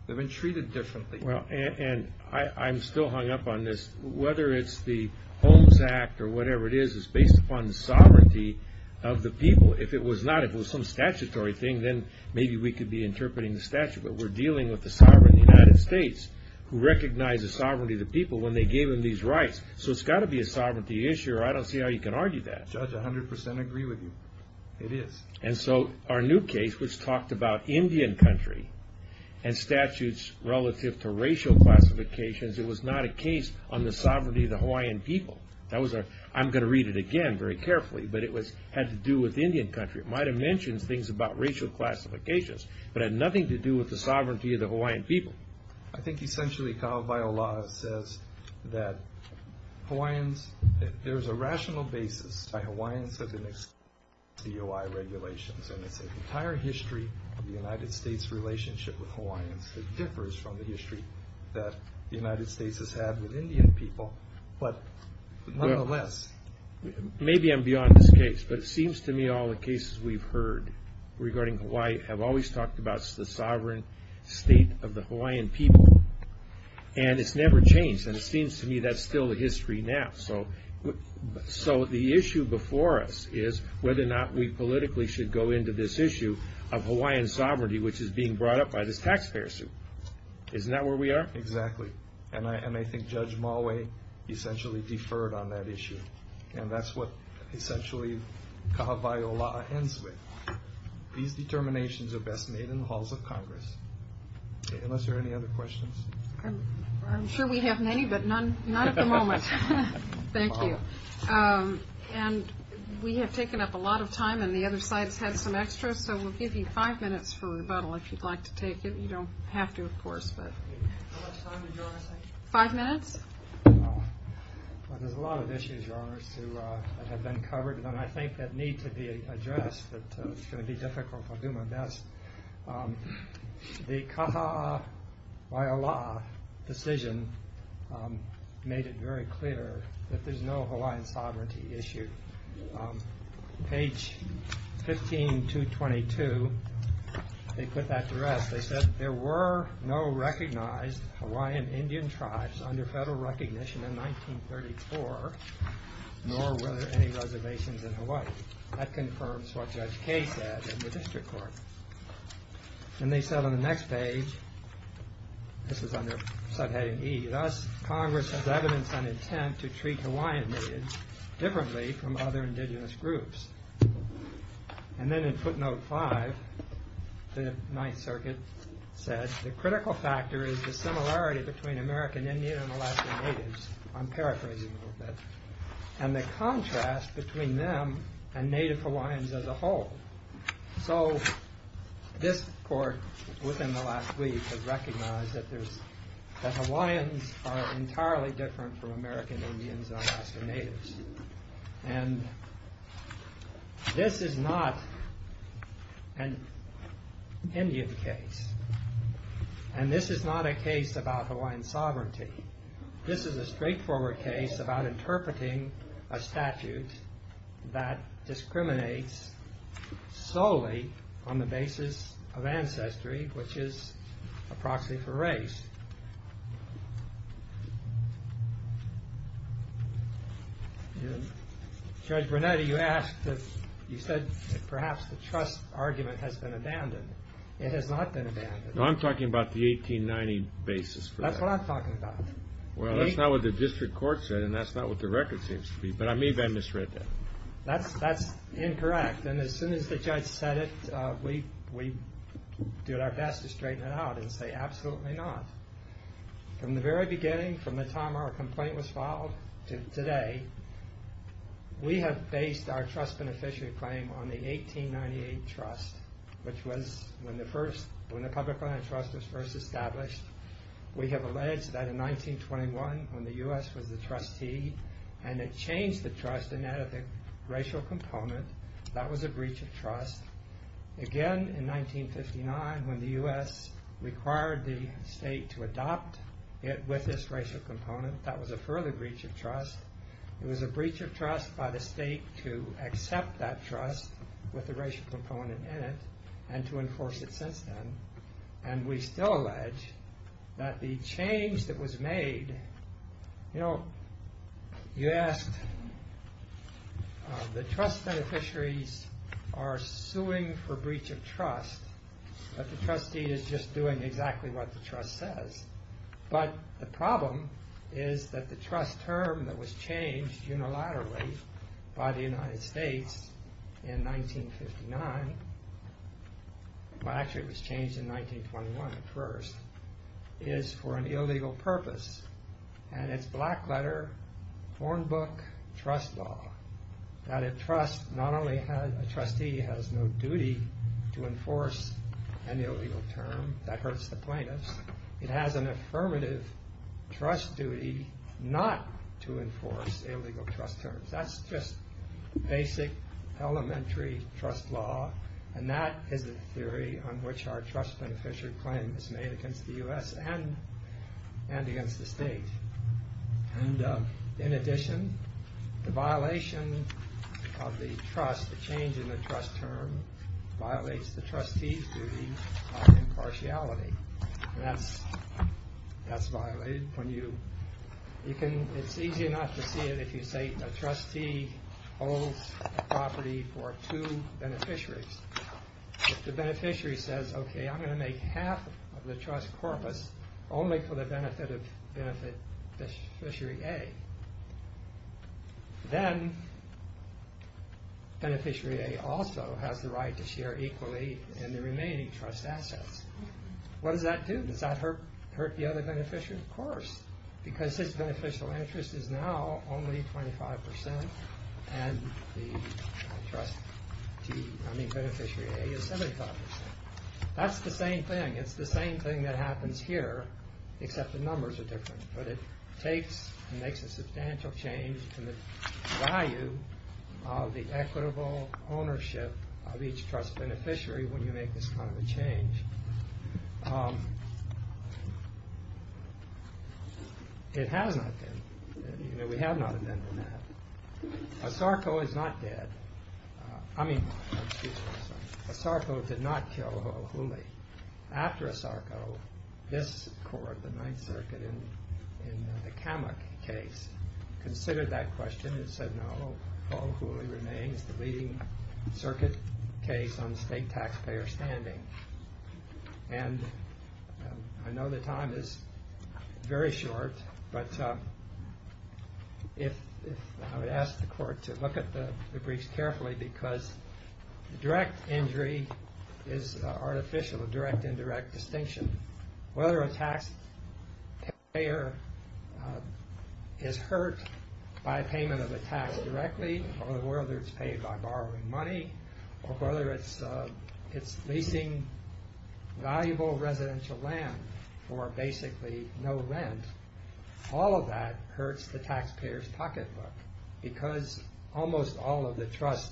They've been treated differently. Well, and I'm still hung up on this. Whether it's the Homes Act or whatever it is, it's based upon the sovereignty of the people. If it was not, if it was some statutory thing, then maybe we could be interpreting the statute. But we're dealing with the sovereign of the United States who recognizes sovereignty of the people when they gave them these rights. So it's got to be a sovereignty issue, or I don't see how you can argue that. Judge, I 100% agree with you. It is. And so our new case, which talked about Indian country and statutes relative to racial classifications, it was not a case on the sovereignty of the Hawaiian people. That was a, I'm going to read it again very carefully, but it was, had to do with Indian country. It might have mentioned things about racial classifications, but had nothing to do with the sovereignty of the Hawaiian people. I think essentially Kahawai Ola'a says that Hawaiians, there's a rational basis that Hawaiians have been excluded from DOI regulations. And it's an entire history of the United States relationship with Hawaiians that differs from the history that the United States has had with Indian people. But nonetheless. Maybe I'm beyond this case, but it seems to me all the cases we've heard regarding Hawaii have always talked about the sovereign state of the Hawaiian people. And it's never changed. And it seems to me that's still a history now. So, so the issue before us is whether or not we politically should go into this issue of Hawaiian sovereignty, which is being brought up by this taxpayer suit. Isn't that where we are? Exactly. And I, and I think Judge Maui essentially deferred on that issue. And that's what essentially Kahawai Ola'a ends with. These determinations are best made in the halls of Congress. Unless there are any other questions. I'm sure we have many, but none, not at the moment. Thank you. And we have taken up a lot of time and the other side's had some extra, so we'll give you five minutes for rebuttal if you'd like to take it. You don't have to, of course, but. Five minutes. Well, there's a lot of issues, Your Honors, that have been covered, and I think that need to be addressed, but it's going to be difficult. I'll do my best. The Kahawai Ola'a decision made it very clear that there's no Hawaiian sovereignty issue. On page 15222, they put that to rest. They said there were no recognized Hawaiian Indian tribes under federal recognition in 1934, nor were there any reservations in Hawaii. That confirms what Judge Kaye said in the district court. And they said on the next page, this is under subheading E, thus Congress has evidence on other indigenous groups. And then in footnote five, the Ninth Circuit said the critical factor is the similarity between American Indian and Alaskan Natives. I'm paraphrasing a little bit. And the contrast between them and Native Hawaiians as a whole. So this court, within the last week, has recognized that Hawaiians are entirely different from American Indians and Alaskan Natives. And this is not an Indian case. And this is not a case about Hawaiian sovereignty. This is a straightforward case about interpreting a statute that discriminates solely on the basis of ancestry, which is a proxy for race. Judge Brunetti, you said perhaps the trust argument has been abandoned. It has not been abandoned. No, I'm talking about the 1890 basis for that. That's what I'm talking about. Well, that's not what the district court said, and that's not what the record seems to be. But I may have misread that. That's incorrect. And as soon as the judge said it, we did our best to straighten it out and say, absolutely not. From the very beginning, from the time our complaint was filed to today, we have based our trust beneficiary claim on the 1898 trust, which was when the public trust was first established. We have alleged that in 1921, when the U.S. was the trustee, and it changed the trust and added the racial component. That was a breach of trust. Again, in 1959, when the U.S. required the state to adopt it with this racial component, that was a further breach of trust. It was a breach of trust by the state to accept that trust with the racial component in it and to enforce it since then. And we still allege that the change that was made. You know, you asked, the trust beneficiaries are suing for breach of trust, but the trustee is just doing exactly what the trust says. But the problem is that the trust term that was changed unilaterally by the United States in 1959, well actually it was changed in 1921 at first, is for an illegal purpose. And it's black letter, foreign book, trust law. That a trust, not only a trustee has no duty to enforce an illegal term, that hurts the plaintiffs, it has an affirmative trust duty not to enforce illegal trust terms. That's just basic elementary trust law. And that is the theory on which our trust beneficiary claim is made against the U.S. and against the state. And in addition, the violation of the trust, the change in the trust term, violates the trustee's duty of impartiality. That's violated when you, you can, it's easy enough to see it if you say a trustee holds a property for two beneficiaries. If the beneficiary says, okay, I'm going to make half of the trust corpus only for the benefit of beneficiary A, then beneficiary A also has the right to share equally in the remaining trust assets. What does that do? Does that hurt the other beneficiary? Of course. Because his beneficial interest is now only 25% and the trustee, I mean beneficiary A is 75%. That's the same thing. It's the same thing that happens here, except the numbers are different. But it takes and makes a substantial change to the value of the equitable ownership of each trust beneficiary when you make this kind of a change. It has not been, you know, we have not amended that. ASARCO is not dead. I mean, ASARCO did not kill Paul Huley. After ASARCO, this court, the Ninth Circuit, in the Kamak case, considered that question and said, no, Paul Huley remains the leading circuit case on state taxpayer standing. And I know the time is very short, but I would ask the court to look at the briefs carefully because direct injury is artificial, a direct indirect distinction. Whether a taxpayer is hurt by payment of a tax directly or whether it's paid by borrowing money or whether it's leasing valuable residential land for basically no rent. All of that hurts the taxpayer's pocketbook because almost all of the trust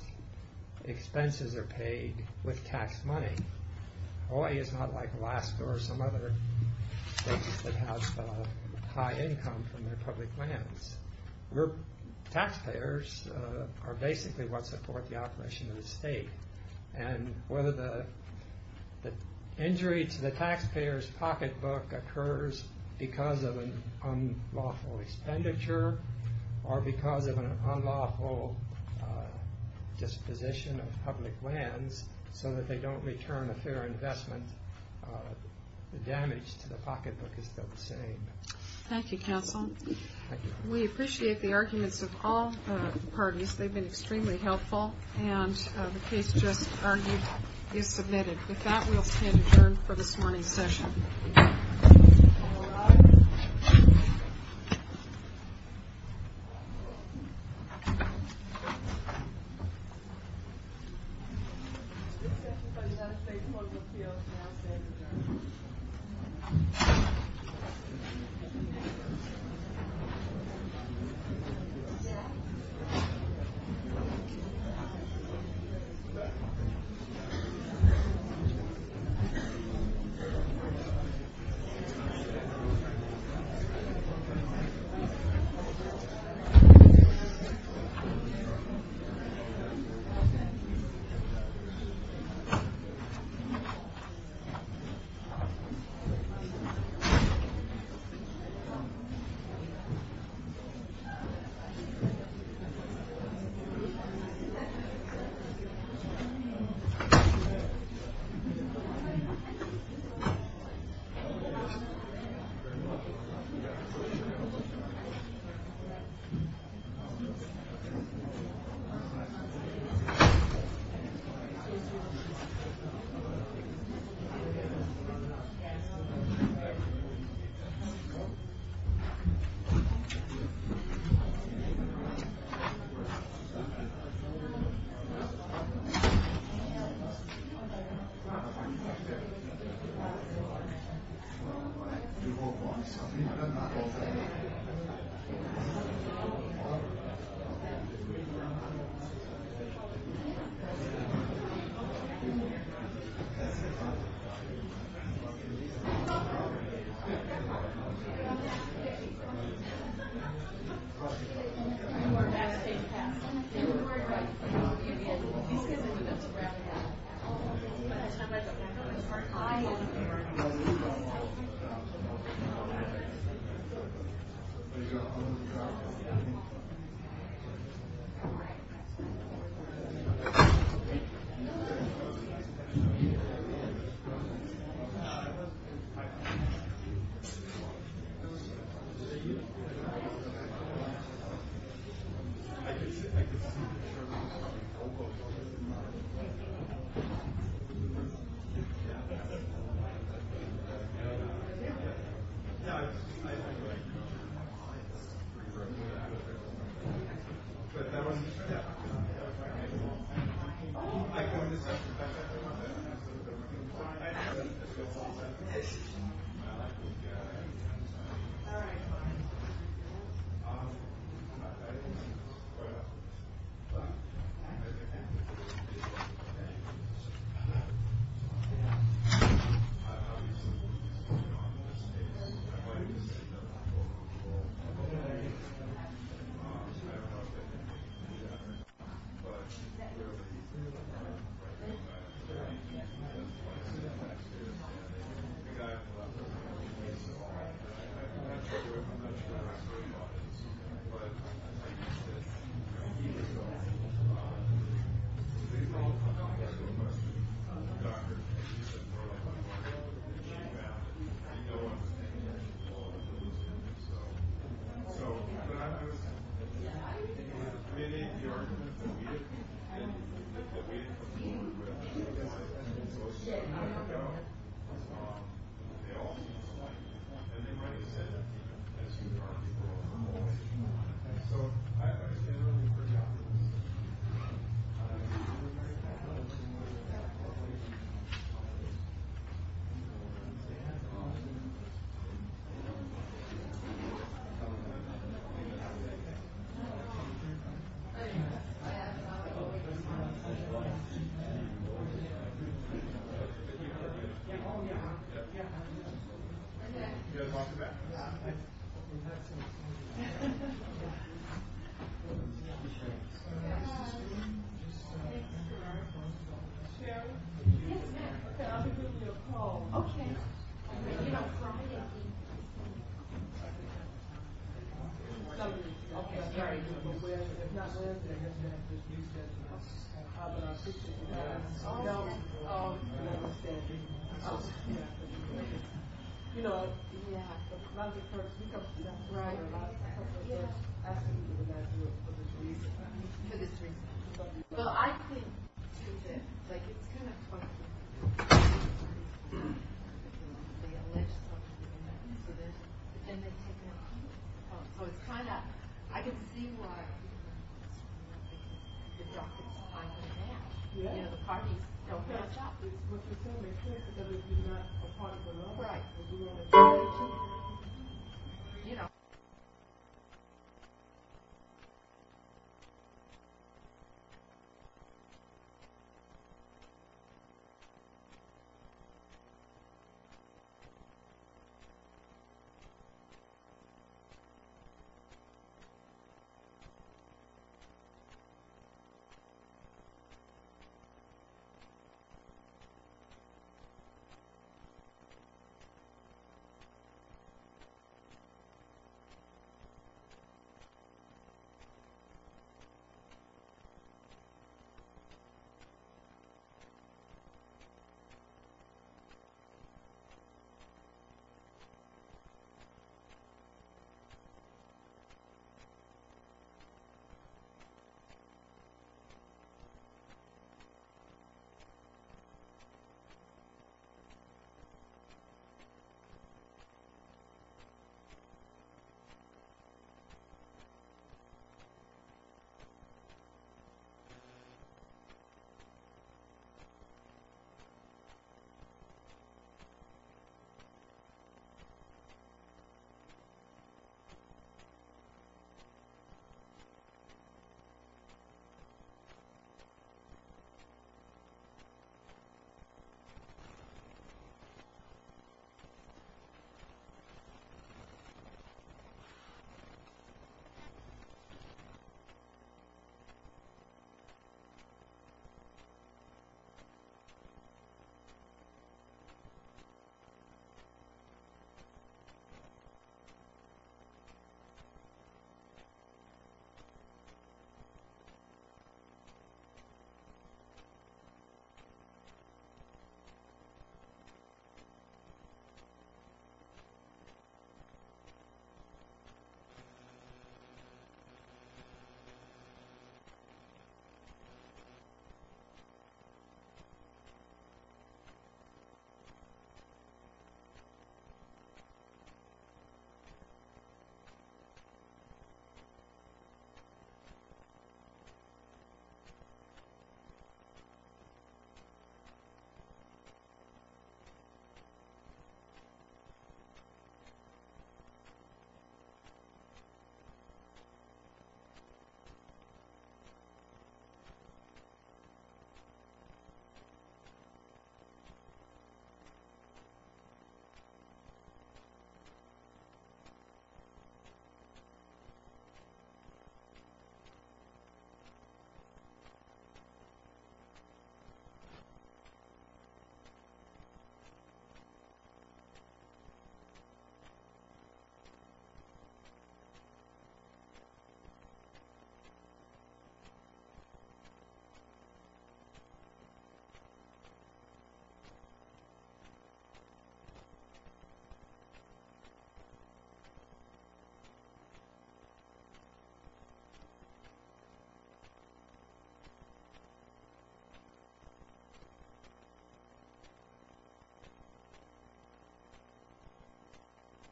expenses are paid with tax money. Hawaii is not like Alaska or some other places that have high income from their public lands. We're, taxpayers are basically what support the operation of the state. And whether the injury to the taxpayer's pocketbook occurs because of an unlawful expenditure or because of an unlawful disposition of public lands so that they don't return a fair investment, the damage to the pocketbook is still the same. Thank you, counsel. We appreciate the arguments of all parties. They've been extremely helpful. And the case just argued is submitted. With that, we'll stand adjourned for this morning's session. All right. We come to that point. Right. For this reason. Well, I think. I didn't see why.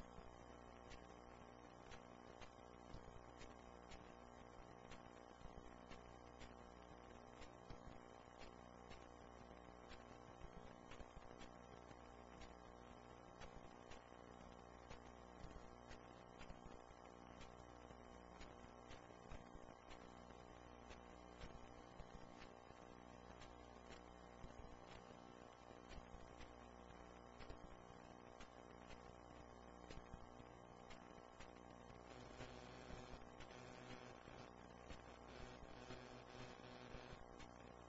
Right. You know.